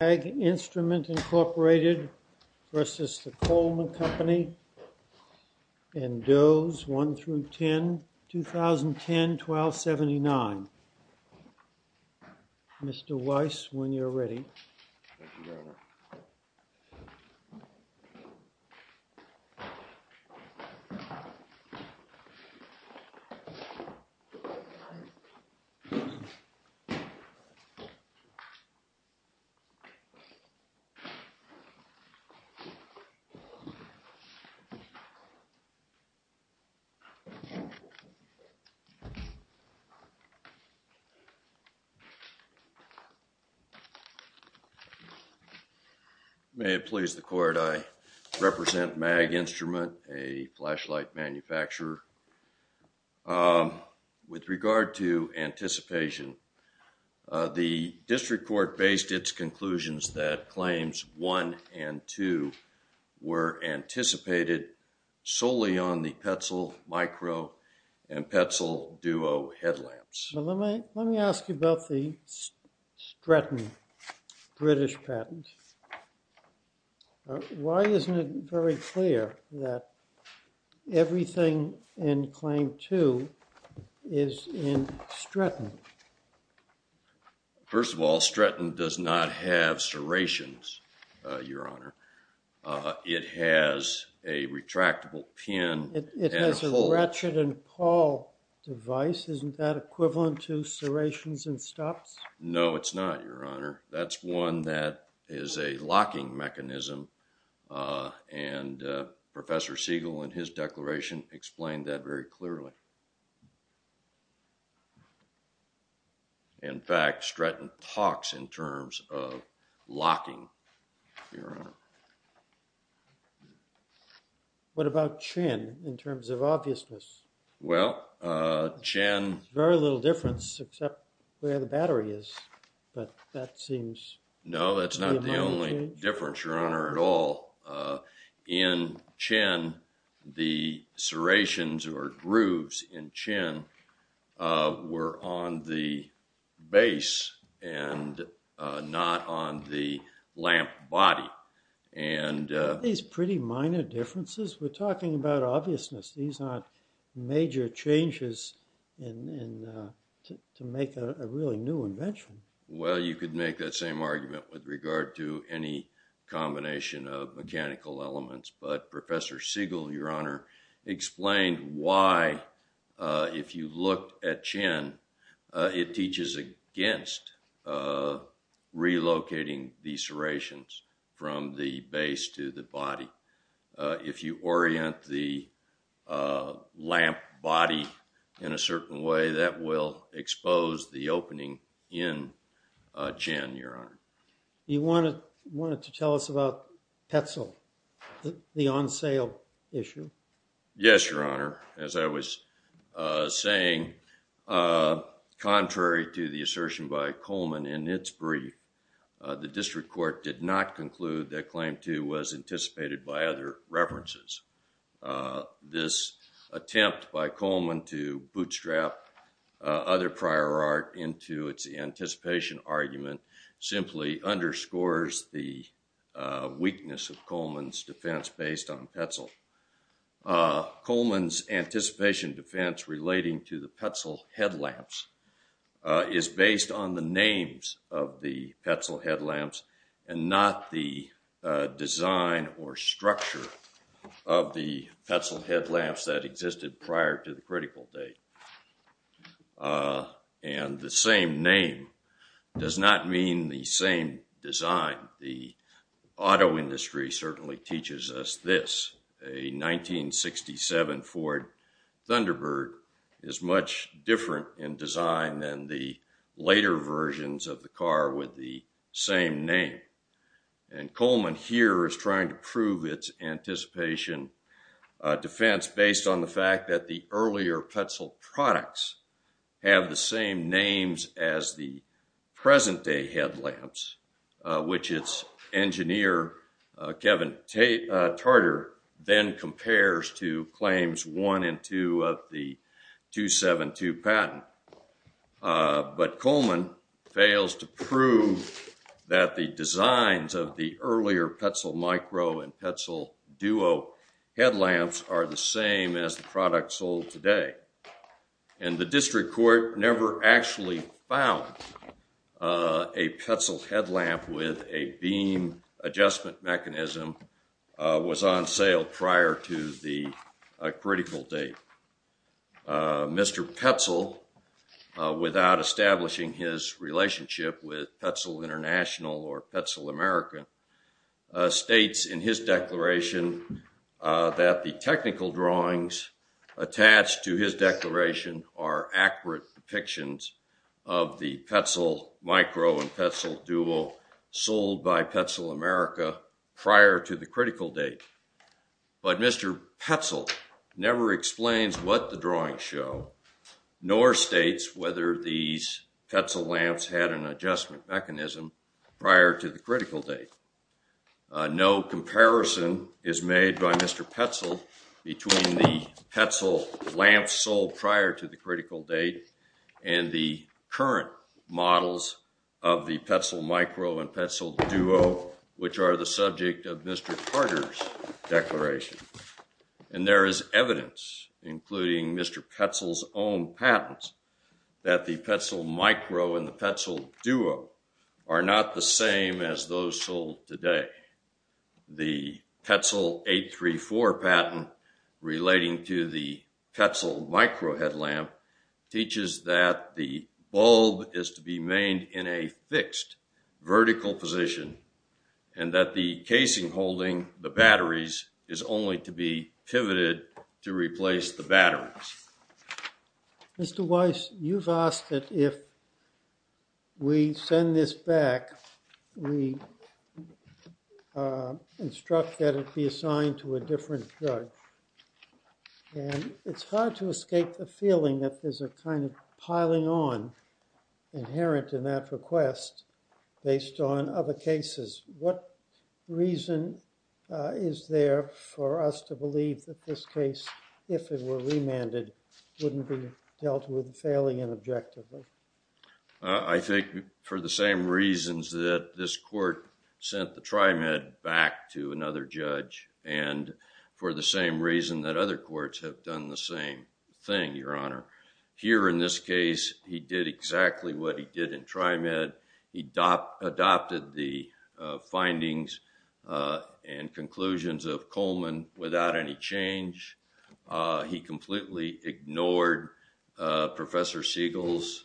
MAG INSTRUMENT, Inc. v. COLEMAN CO, DOE'S, 1-10, 2010-12-79 Mr. Weiss, when you're ready. May it please the court, I represent MAG Instrument, a flashlight manufacturer. With regard to anticipation, the district court based its conclusions that claims 1 and 2 were anticipated solely on the Petzl Micro and Petzl Duo headlamps. Let me ask you about the Stretton British patent. Why isn't it very clear that everything in claim 2 is in Stretton? First of all, Stretton does not have serrations, your honor. It has a retractable pin. It has a ratchet and pawl device. Isn't that equivalent to serrations and stops? No, it's not, your honor. That's one that is a locking mechanism. And Professor Siegel in his declaration explained that very clearly. In fact, Stretton talks in terms of locking, your honor. What about Chen, in terms of obviousness? Well, Chen... There's very little difference except where the battery is, but that seems... No, that's not the only difference, your honor, at all. In Chen, the serrations or grooves in Chen were on the base and not on the lamp body. Aren't these pretty minor differences? We're talking about obviousness. These aren't major changes to make a really new invention. Well, you could make that same argument with regard to any combination of mechanical elements, but Professor Siegel, your honor, explained why, if you look at Chen, it teaches against relocating the serrations from the base to the body. If you orient the lamp body in a certain way, that will expose the opening in Chen, your honor. You wanted to tell us about Petzl, the on-sale issue? Yes, your honor. As I was saying, contrary to the assertion by Coleman in its brief, the district court did not conclude that Claim 2 was anticipated by other references. This attempt by Coleman to bootstrap other prior art into its anticipation argument simply underscores the weakness of Coleman's defense based on Petzl. Coleman's anticipation defense relating to the Petzl headlamps is based on the names of the Petzl headlamps and not the design or structure of the Petzl headlamps that existed prior to the critical date. And the same name does not mean the same design. The auto industry certainly teaches us this. A 1967 Ford Thunderbird is much different in design than the later versions of the car with the same name. Coleman here is trying to prove its anticipation defense based on the fact that the earlier Petzl products have the same names as the present-day headlamps, which its engineer, Kevin Tarter, then compares to Claims 1 and 2 of the 272 patent. But Coleman fails to prove that the designs of the earlier Petzl Micro and Petzl Duo headlamps are the same as the product sold today. And the district court never actually found a Petzl headlamp with a beam adjustment mechanism was on sale prior to the critical date. Mr. Petzl, without establishing his relationship with Petzl International or Petzl American, states in his declaration that the technical drawings attached to his declaration are accurate depictions of the Petzl Micro and Petzl Duo sold by Petzl America prior to the critical date. But Mr. Petzl never explains what the drawings show nor states whether these Petzl lamps had an adjustment mechanism prior to the critical date. No comparison is made by Mr. Petzl between the Petzl lamps sold prior to the critical date and the current models of the Petzl Micro and Petzl Duo, which are the subject of Mr. Tarter's declaration. And there is evidence, including Mr. Petzl's own patents, that the Petzl Micro and the Petzl Duo are still sold today. The Petzl 834 patent relating to the Petzl Micro headlamp teaches that the bulb is to be made in a fixed vertical position and that the casing holding the batteries is only to be pivoted to replace the batteries. Mr. Weiss, you've asked that if we send this back, we instruct that it be assigned to a different drug. And it's hard to escape the feeling that there's a kind of piling on inherent in that request based on other cases. What reason is there for us to believe that this case, if it were remanded, wouldn't be dealt with fairly and objectively? I think for the same reasons that this court sent the Trimed back to another judge and for the same reason that other courts have done the same thing, Your Honor. Here in this case, he did exactly what he did in Trimed. He adopted the findings and conclusions of Coleman without any change. He completely ignored Professor Siegel's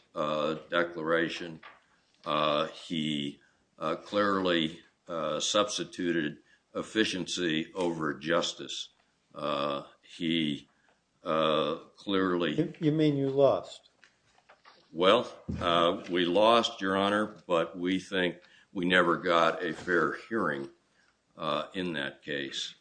declaration. He clearly substituted efficiency over justice. He clearly— You mean you lost? Well, we lost, Your Honor, but we think we never got a fair hearing in that case.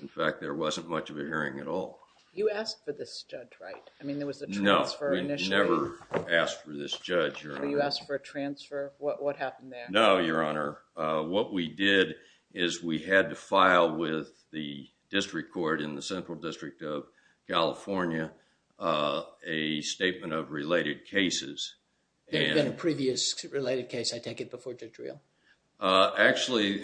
In fact, there wasn't much of a hearing at all. You asked for this judge, right? I mean, there was a transfer initially. No, we never asked for this judge, Your Honor. You asked for a transfer? What happened there? No, Your Honor. What we did is we had to file with the district court in the Central District of New York to get a statement of related cases. There had been a previous related case, I take it, before Judge Reel? Actually,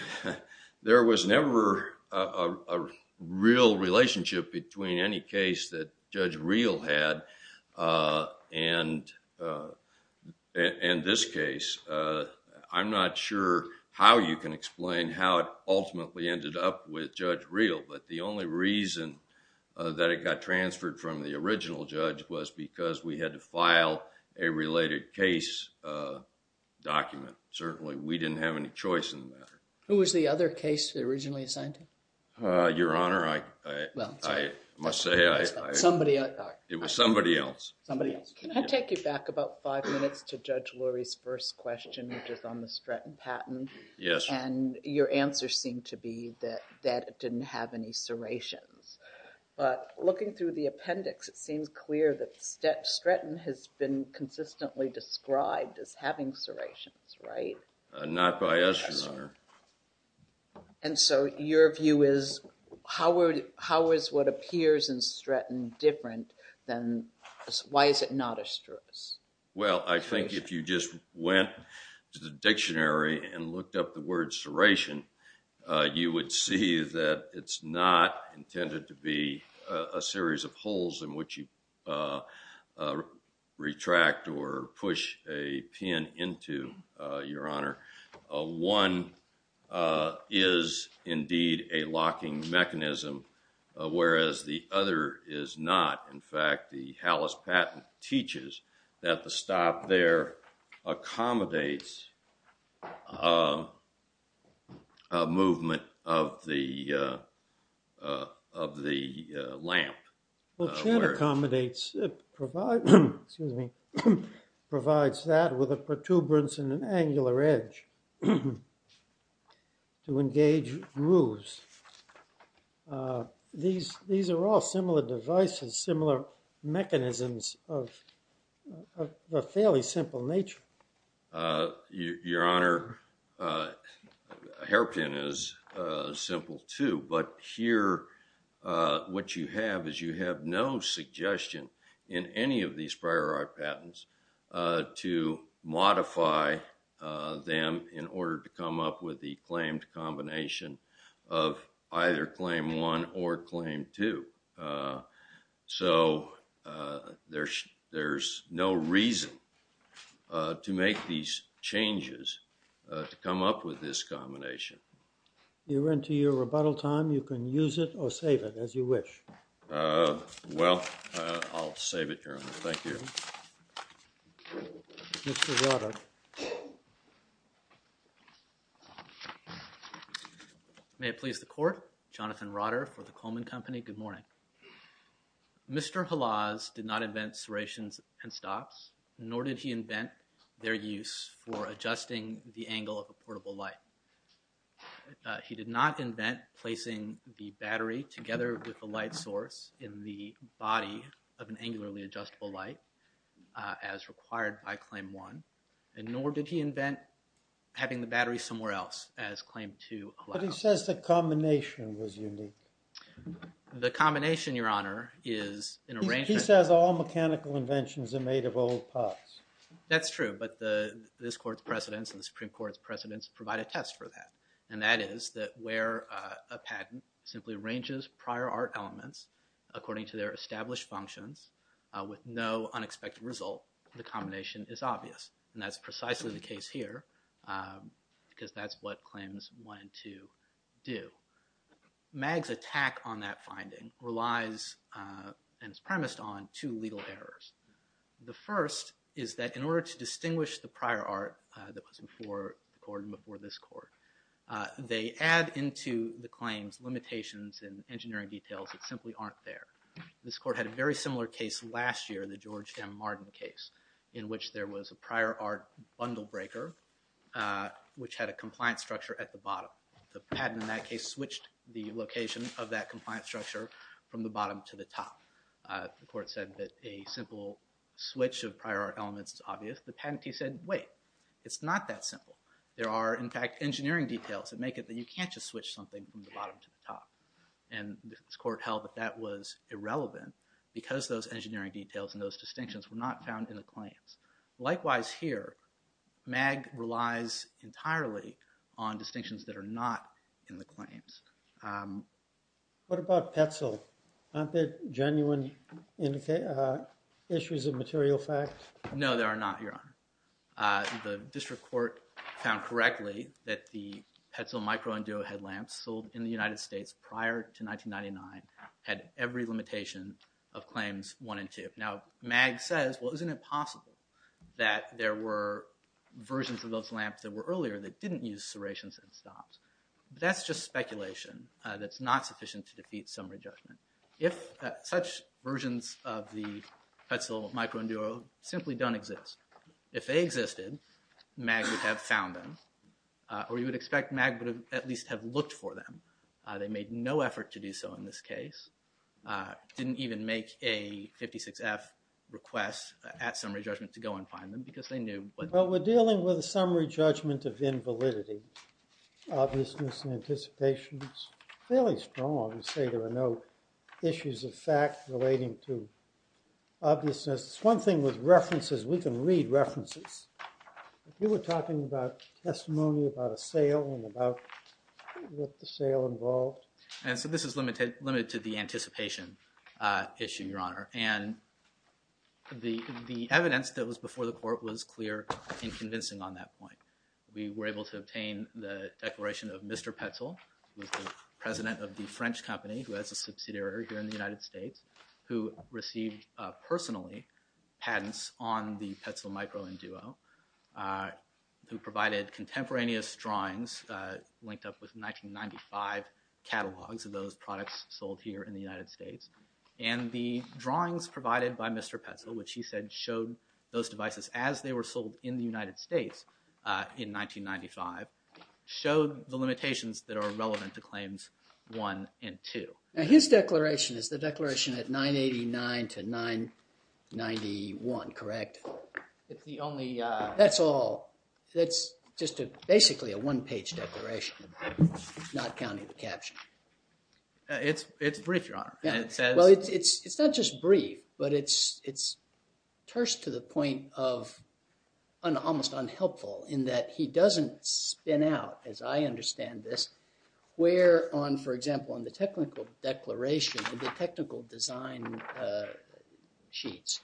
there was never a real relationship between any case that Judge Reel had and this case. I'm not sure how you can explain how it ultimately ended up with Judge Reel, but the only reason that it got transferred from the original judge was because we had to file a related case document. Certainly, we didn't have any choice in the matter. Who was the other case originally assigned to? Your Honor, I must say... Somebody else. It was somebody else. Somebody else. Can I take you back about five minutes to Judge Lurie's first question, which is on the patent? Yes. Your answer seemed to be that it didn't have any serrations, but looking through the appendix, it seems clear that Stretton has been consistently described as having serrations, right? Not by us, Your Honor. Your view is, how is what appears in Stretton different than... Why is it not a strut? Well, I think if you just went to the dictionary and looked up the word serration, you would see that it's not intended to be a series of holes in which you retract or push a pin into, Your Honor. One is indeed a locking mechanism, whereas the other is not. In fact, the Hallis patent teaches that the stop there accommodates a movement of the lamp. Well, it accommodates... provides that with a protuberance and an angular edge to engage grooves. These are all similar devices, similar mechanisms of a fairly simple nature. Your Honor, hairpin is simple, too, but here what you have is you have no suggestion in any of these prior art patents to modify them in order to come up with the claimed combination of either claim one or claim two. So, there's no reason to make these changes to come up with this combination. You're into your rebuttal time. You can use it or save it as you wish. Well, I'll save it, Your Honor. Thank you. Mr. Roddick. May it please the Court. Jonathan Roddick for the Coleman Company. Good morning. Mr. Hallas did not invent serrations and stops, nor did he invent their use for adjusting the angle of a portable light. He did not invent placing the battery together with the light source in the body of an angularly adjustable light as required by claim one, and nor did he invent having the battery somewhere else as claimed to allow. But he says the combination was unique. The combination, Your Honor, is an arrangement. He says all mechanical inventions are made of old parts. That's true, but this Court's precedents and the Supreme Court's precedents provide a test for that, and that is that where a patent simply arranges prior art elements according to their established functions with no unexpected result, the combination is obvious. And that's precisely the case here, because that's what claims one and two do. Mag's attack on that finding relies, and is premised on, two legal errors. The first is that in order to distinguish the prior art that was before the Court and before this Court, they add into the claims limitations and engineering details that simply aren't there. This Court had a very similar case last year, the George M. Martin case, in which there was a prior art bundle breaker, which had a compliance structure at the bottom. The patent in that case switched the location of that compliance structure from the bottom to the top. The Court said that a simple switch of prior art elements is obvious. The patentee said, wait, it's not that simple. There are, in fact, engineering details that make it that you can't just switch something from the bottom to the top. And this Court held that that was irrelevant because those engineering details and those distinctions were not found in the claims. Likewise here, Mag relies entirely on distinctions that are not in the claims. What about Petzl? Aren't there genuine issues of material fact? No, there are not, Your Honor. The District Court found correctly that the Petzl Micro and Duo headlamps sold in the United States prior to 1999 had every limitation of claims one and two. Now, Mag says, well, isn't it possible that there were versions of those lamps that were earlier that didn't use serrations and stops? That's just speculation that's not sufficient to defeat summary judgment. If such versions of the Petzl Micro and Duo simply don't exist, if they existed, Mag would have found them, or you would expect Mag would at least have looked for them. They made no effort to do so in this case. Didn't even make a 56-F request at summary judgment to go and find them because they knew what- Well, we're dealing with a summary judgment of invalidity. Obviousness and anticipation is fairly strong. We say there are no issues of fact relating to obviousness. It's one thing with references. We can read references. If you were talking about testimony about a sale and about what the sale involved- And so this is limited to the anticipation issue, Your Honor. And the evidence that was before the court was clear and convincing on that point. We were able to obtain the declaration of Mr. Petzl, who was the president of the French company, who has a subsidiary here in the United States, who received personally patents on the Petzl Micro and Duo, who provided contemporaneous drawings linked up with 1995 catalogs of those products sold here in the United States. And the drawings provided by Mr. Petzl, which he said showed those devices as they were sold in the United States in 1995, showed the limitations that are relevant to Claims 1 and 2. Now, his declaration is the declaration at 989 to 991, correct? It's the only- That's all. That's just basically a one-page declaration, not counting the caption. It's brief, Your Honor. And it says- Well, it's not just brief, but it's terse to the point of almost unhelpful in that he doesn't spin out, as I understand this, where on, for example, on the technical declaration of the technical design sheets,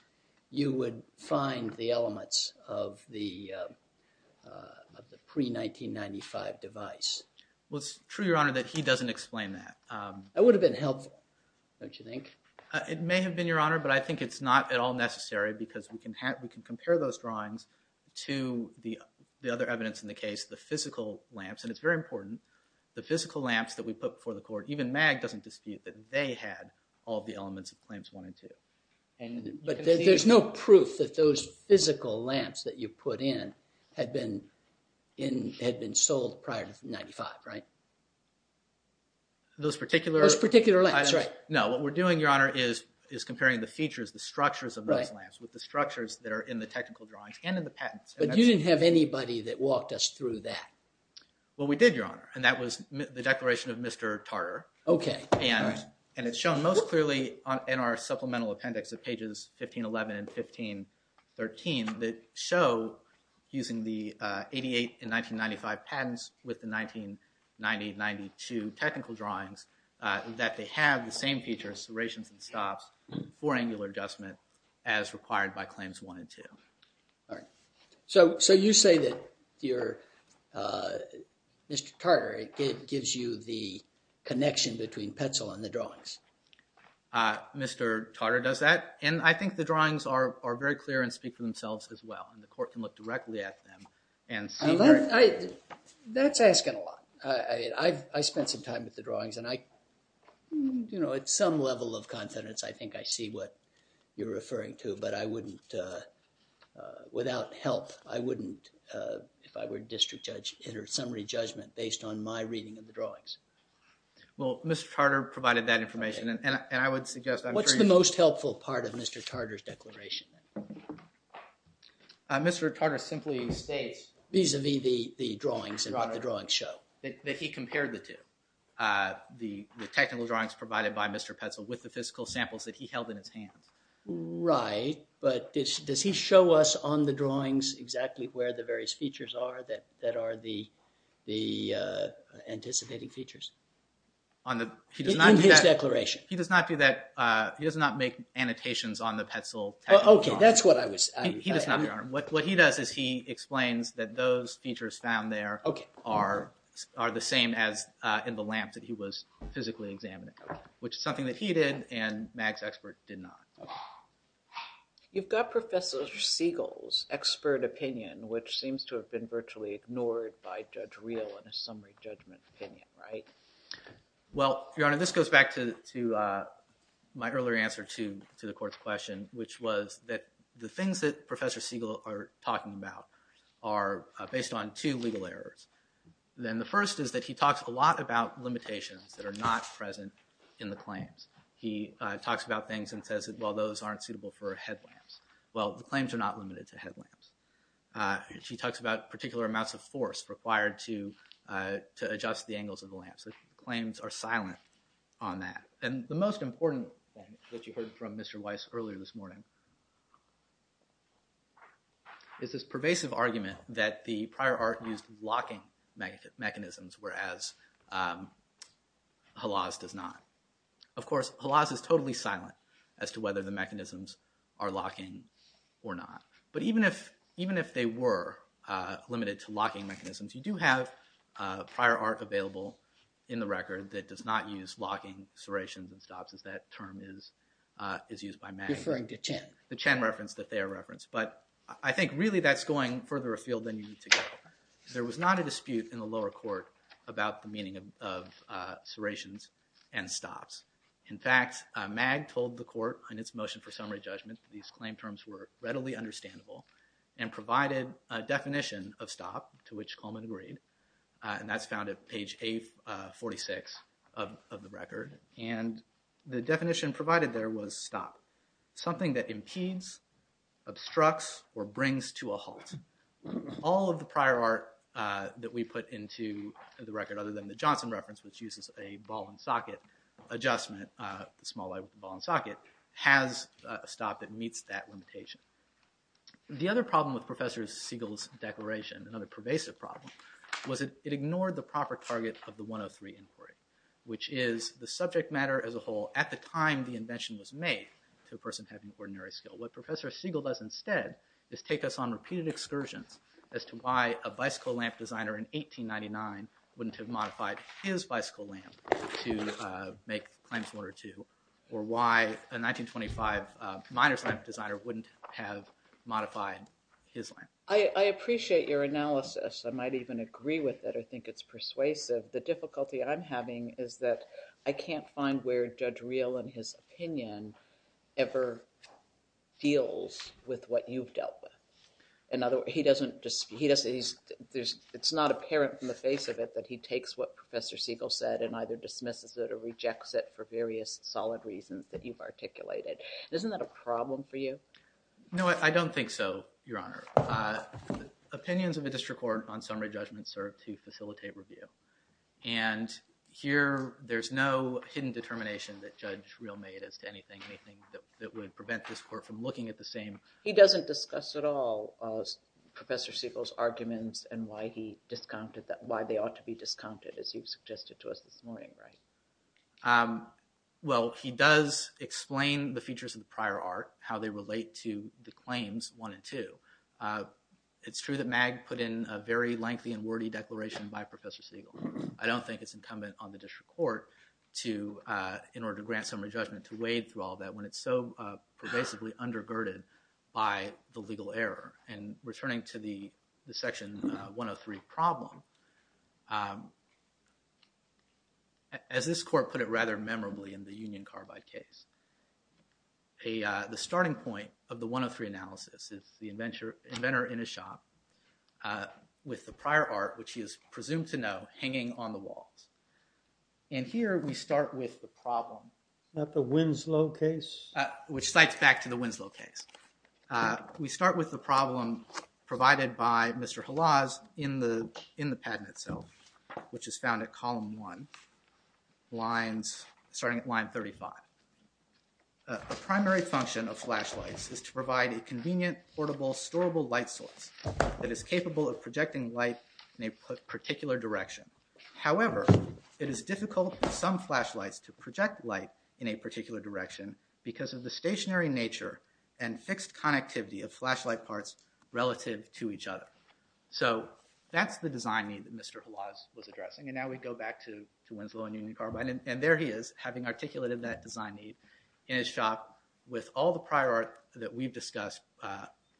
you would find the elements of the pre-1995 device. Well, it's true, Your Honor, that he doesn't explain that. That would have been helpful, don't you think? It may have been, Your Honor, but I think it's not at all necessary because we can compare those drawings to the other evidence in the case, the physical lamps. And it's very important. The physical lamps that we put before the Court, even MAG doesn't dispute that they had all the elements of Claims 1 and 2. But there's no proof that those physical lamps that you put in had been sold prior to 95, right? Those particular- Those particular lamps, right. No, what we're doing, Your Honor, is comparing the features, the structures of those lamps with the structures that are in the technical drawings and in the patents. But you didn't have anybody that walked us through that. Well, we did, Your Honor, and that was the declaration of Mr. Tartar. Okay. And it's shown most clearly in our supplemental appendix of pages 1511 and 1513 that show, using the 88 and 1995 patents with the 1990-92 technical drawings, that they have the same serrations and stops for angular adjustment as required by Claims 1 and 2. All right. So you say that your- Mr. Tartar, it gives you the connection between Petzl and the drawings. Mr. Tartar does that. And I think the drawings are very clear and speak for themselves as well. And the Court can look directly at them and see- That's asking a lot. I spent some time with the drawings. And I, you know, at some level of confidence, I think I see what you're referring to. But I wouldn't, without help, I wouldn't, if I were district judge, enter summary judgment based on my reading of the drawings. Well, Mr. Tartar provided that information and I would suggest- What's the most helpful part of Mr. Tartar's declaration? Mr. Tartar simply states- Vis-a-vis the drawings and what the drawings show. That he compared the two. The technical drawings provided by Mr. Petzl with the physical samples that he held in his hands. Right. But does he show us on the drawings exactly where the various features are that are the anticipating features? On the- In his declaration. He does not do that. He does not make annotations on the Petzl technical drawings. Okay, that's what I was- He does not do that. What he does is he explains that those features found there- Okay. Are the same as in the lamps that he was physically examining. Which is something that he did and Mag's expert did not. You've got Professor Siegel's expert opinion, which seems to have been virtually ignored by Judge Reel in his summary judgment opinion, right? Well, Your Honor, this goes back to my earlier answer to the court's question, which was that the things that Professor Siegel are talking about are based on two legal errors. Then the first is that he talks a lot about limitations that are not present in the claims. He talks about things and says, well, those aren't suitable for headlamps. Well, the claims are not limited to headlamps. He talks about particular amounts of force required to adjust the angles of the lamps. Claims are silent on that. And the most important thing that you heard from Mr. Weiss earlier this morning is this pervasive argument that the prior art used locking mechanisms, whereas Halas does not. Of course, Halas is totally silent as to whether the mechanisms are locking or not. But even if they were limited to locking mechanisms, you do have prior art available in the record that does not use locking serrations and stops, as that term is used by Mag. Referring to chance. The Chen reference that they are referenced. But I think really that's going further afield than you need to go. There was not a dispute in the lower court about the meaning of serrations and stops. In fact, Mag told the court in its motion for summary judgment, these claim terms were readily understandable and provided a definition of stop to which Coleman agreed. And that's found at page 846 of the record. And the definition provided there was stop. Something that impedes, obstructs, or brings to a halt. All of the prior art that we put into the record, other than the Johnson reference, which uses a ball and socket adjustment, the small ball and socket, has a stop that meets that limitation. The other problem with Professor Siegel's declaration, another pervasive problem, was it ignored the proper target of the 103 inquiry, which is the subject matter as a whole at the time the invention was made, to a person having ordinary skill. What Professor Siegel does instead is take us on repeated excursions as to why a bicycle lamp designer in 1899 wouldn't have modified his bicycle lamp to make claims one or two. Or why a 1925 miner's lamp designer wouldn't have modified his lamp. I appreciate your analysis. I might even agree with it. I think it's persuasive. The difficulty I'm having is that I can't find where Judge Reel and his opinion ever deals with what you've dealt with. In other words, it's not apparent from the face of it that he takes what Professor Siegel said and either dismisses it or rejects it for various solid reasons that you've articulated. Isn't that a problem for you? No, I don't think so, Your Honor. Opinions of a district court on summary judgment serve to facilitate review. And here there's no hidden determination that Judge Reel made as to anything that would prevent this court from looking at the same. He doesn't discuss at all Professor Siegel's arguments and why he discounted that, why they ought to be discounted as you've suggested to us this morning, right? Well, he does explain the features of the prior art, how they relate to the claims one and two. It's true that Mag put in a very lengthy and wordy declaration by Professor Siegel. I don't think it's incumbent on the district court to, in order to grant summary judgment, to wade through all that when it's so pervasively undergirded by the legal error. And returning to the Section 103 problem, as this court put it rather memorably in the Union Carbide case, the starting point of the 103 analysis is the inventor in a shop with the prior art, which he is presumed to know, hanging on the walls. And here we start with the problem. Not the Winslow case? Which cites back to the Winslow case. We start with the problem provided by Mr. Halas in the patent itself, which is found at column one, starting at line 35. The primary function of flashlights is to provide a convenient, portable, storable light source that is capable of projecting light in a particular direction. However, it is difficult for some flashlights to project light in a particular direction because of the stationary nature and fixed connectivity of flashlight parts relative to each other. So that's the design need that Mr. Halas was addressing. And now we go back to Winslow and Union Carbide. And there he is, having articulated that design need in his shop with all the prior art that we've discussed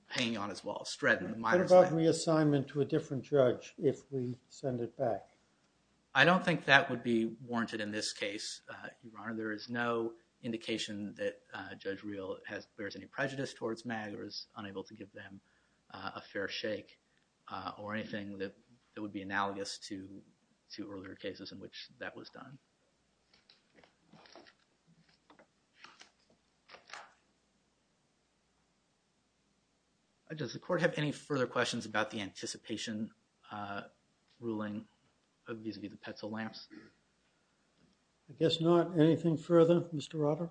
hanging on his walls, straddling the minor side. What about reassignment to a different judge if we send it back? I don't think that would be warranted in this case, Your Honor. There is no indication that Judge Real bears any prejudice towards MAG or is unable to give them a fair shake or anything that would be analogous to two earlier cases in which that was done. Does the court have any further questions about the anticipation ruling? Vis-a-vis the Petzl lamps? I guess not. Anything further, Mr. Rotter?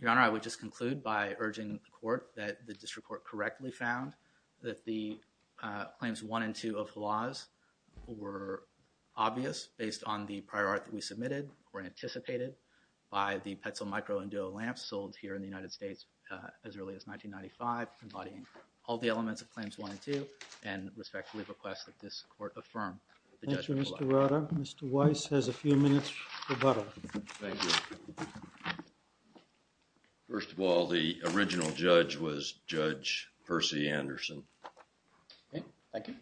Your Honor, I would just conclude by urging the court that the district court correctly found that the claims one and two of Halas were obvious based on the prior art that we submitted or anticipated by the Petzl micro and duo lamps sold here in the United States as early as 1995, embodying all the elements of claims one and two and respectfully request that this court affirm. Thank you, Mr. Rotter. Mr. Weiss has a few minutes rebuttal. First of all, the original judge was Judge Percy Anderson. Okay, thank you.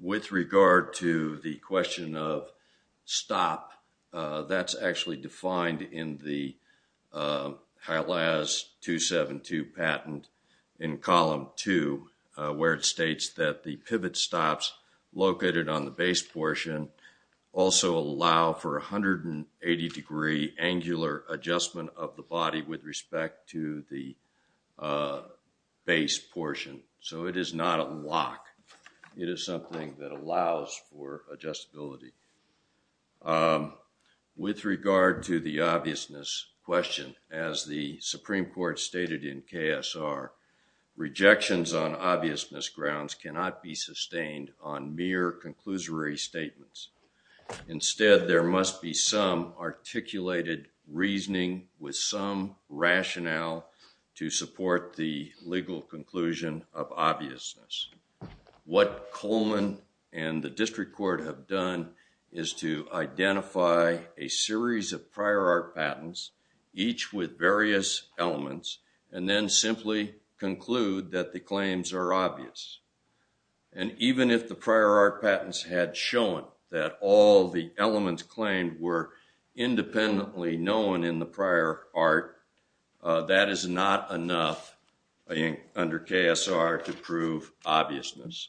With regard to the question of stop, that's actually defined in the where it states that the pivot stops located on the base portion also allow for 180 degree angular adjustment of the body with respect to the base portion. So it is not a lock. It is something that allows for adjustability. With regard to the obviousness question, as the Supreme Court stated in KSR, rejections on obviousness grounds cannot be sustained on mere conclusory statements. Instead, there must be some articulated reasoning with some rationale to support the legal conclusion of obviousness. What Coleman and the district court have done is to identify a series of prior art patents, each with various elements, and then simply conclude that the claims are obvious. And even if the prior art patents had shown that all the elements claimed were independently known in the prior art, that is not enough under KSR to prove obviousness.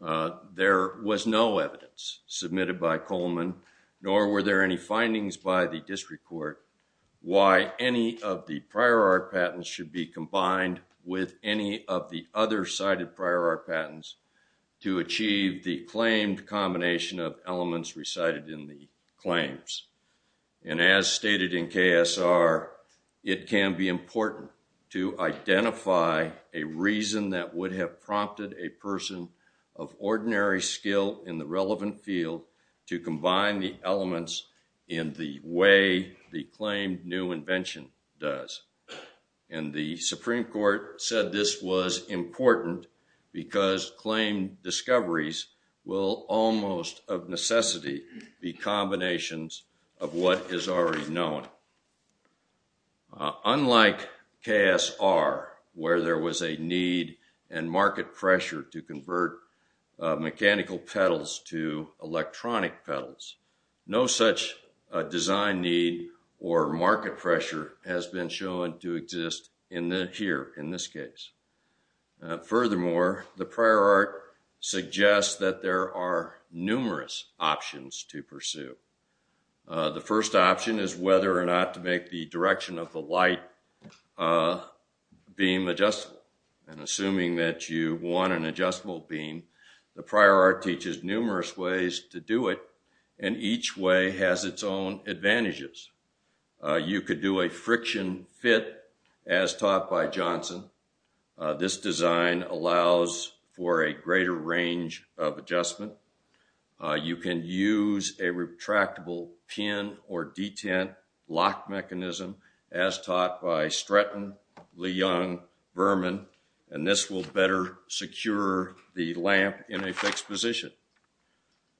There was no evidence submitted by Coleman, nor were there any findings by the district court why any of the prior art patents should be combined with any of the other cited prior art patents to achieve the claimed combination of elements recited in the claims. And as stated in KSR, it can be important to identify a reason that would have prompted a person of ordinary skill in the relevant field to combine the elements in the way the claimed new invention does. And the Supreme Court said this was important because claimed discoveries will almost of necessity be combinations of what is already known. Unlike KSR, where there was a need and market pressure to convert mechanical pedals to electronic pedals, no such design need or market pressure has been shown to exist here in this case. Furthermore, the prior art suggests that there are numerous options to pursue. The first option is whether or not to make the direction of the light beam adjustable, and assuming that you want an adjustable beam, the prior art teaches numerous ways to do it, and each way has its own advantages. You could do a friction fit as taught by Johnson. This design allows for a greater range of adjustment. You can use a retractable pin or detent lock mechanism as taught by Stratton, Leung, Berman, and this will better secure the lamp in a fixed position.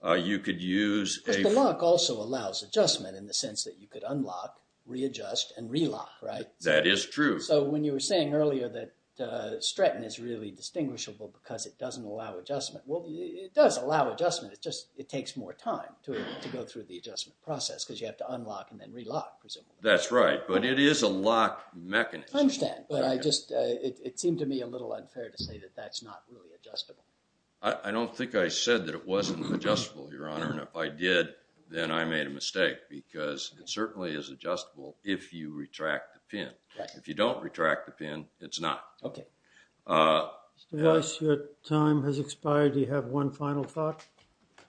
You could use a- But the lock also allows adjustment in the sense that you could unlock, readjust, and relock, right? That is true. So when you were saying earlier that Stratton is really distinguishable because it doesn't allow adjustment, it just, it takes more time to go through the adjustment process because you have to unlock and then relock, presumably. That's right, but it is a lock mechanism. I understand, but I just, it seemed to me a little unfair to say that that's not really adjustable. I don't think I said that it wasn't adjustable, Your Honor, and if I did, then I made a mistake because it certainly is adjustable if you retract the pin. Okay. Mr. Weiss, your time has expired. Do you have one final thought?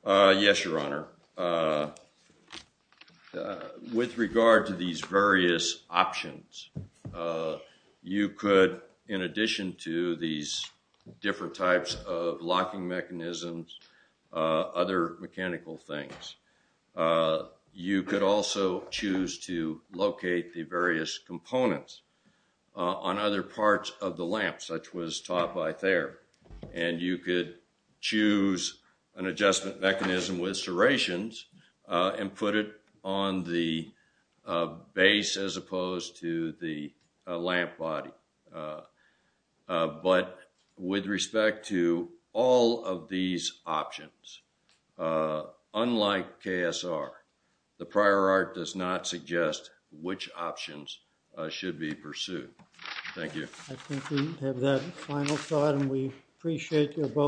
Yes, Your Honor. With regard to these various options, you could, in addition to these different types of locking mechanisms, other mechanical things, you could also choose to locate the various components on other parts of the lamp, such was taught by Thayer. And you could choose an adjustment mechanism with serrations and put it on the base as opposed to the lamp body. But with respect to all of these options, unlike KSR, the prior art does not suggest which options should be pursued. Thank you. I think we have that final thought and we appreciate your vote.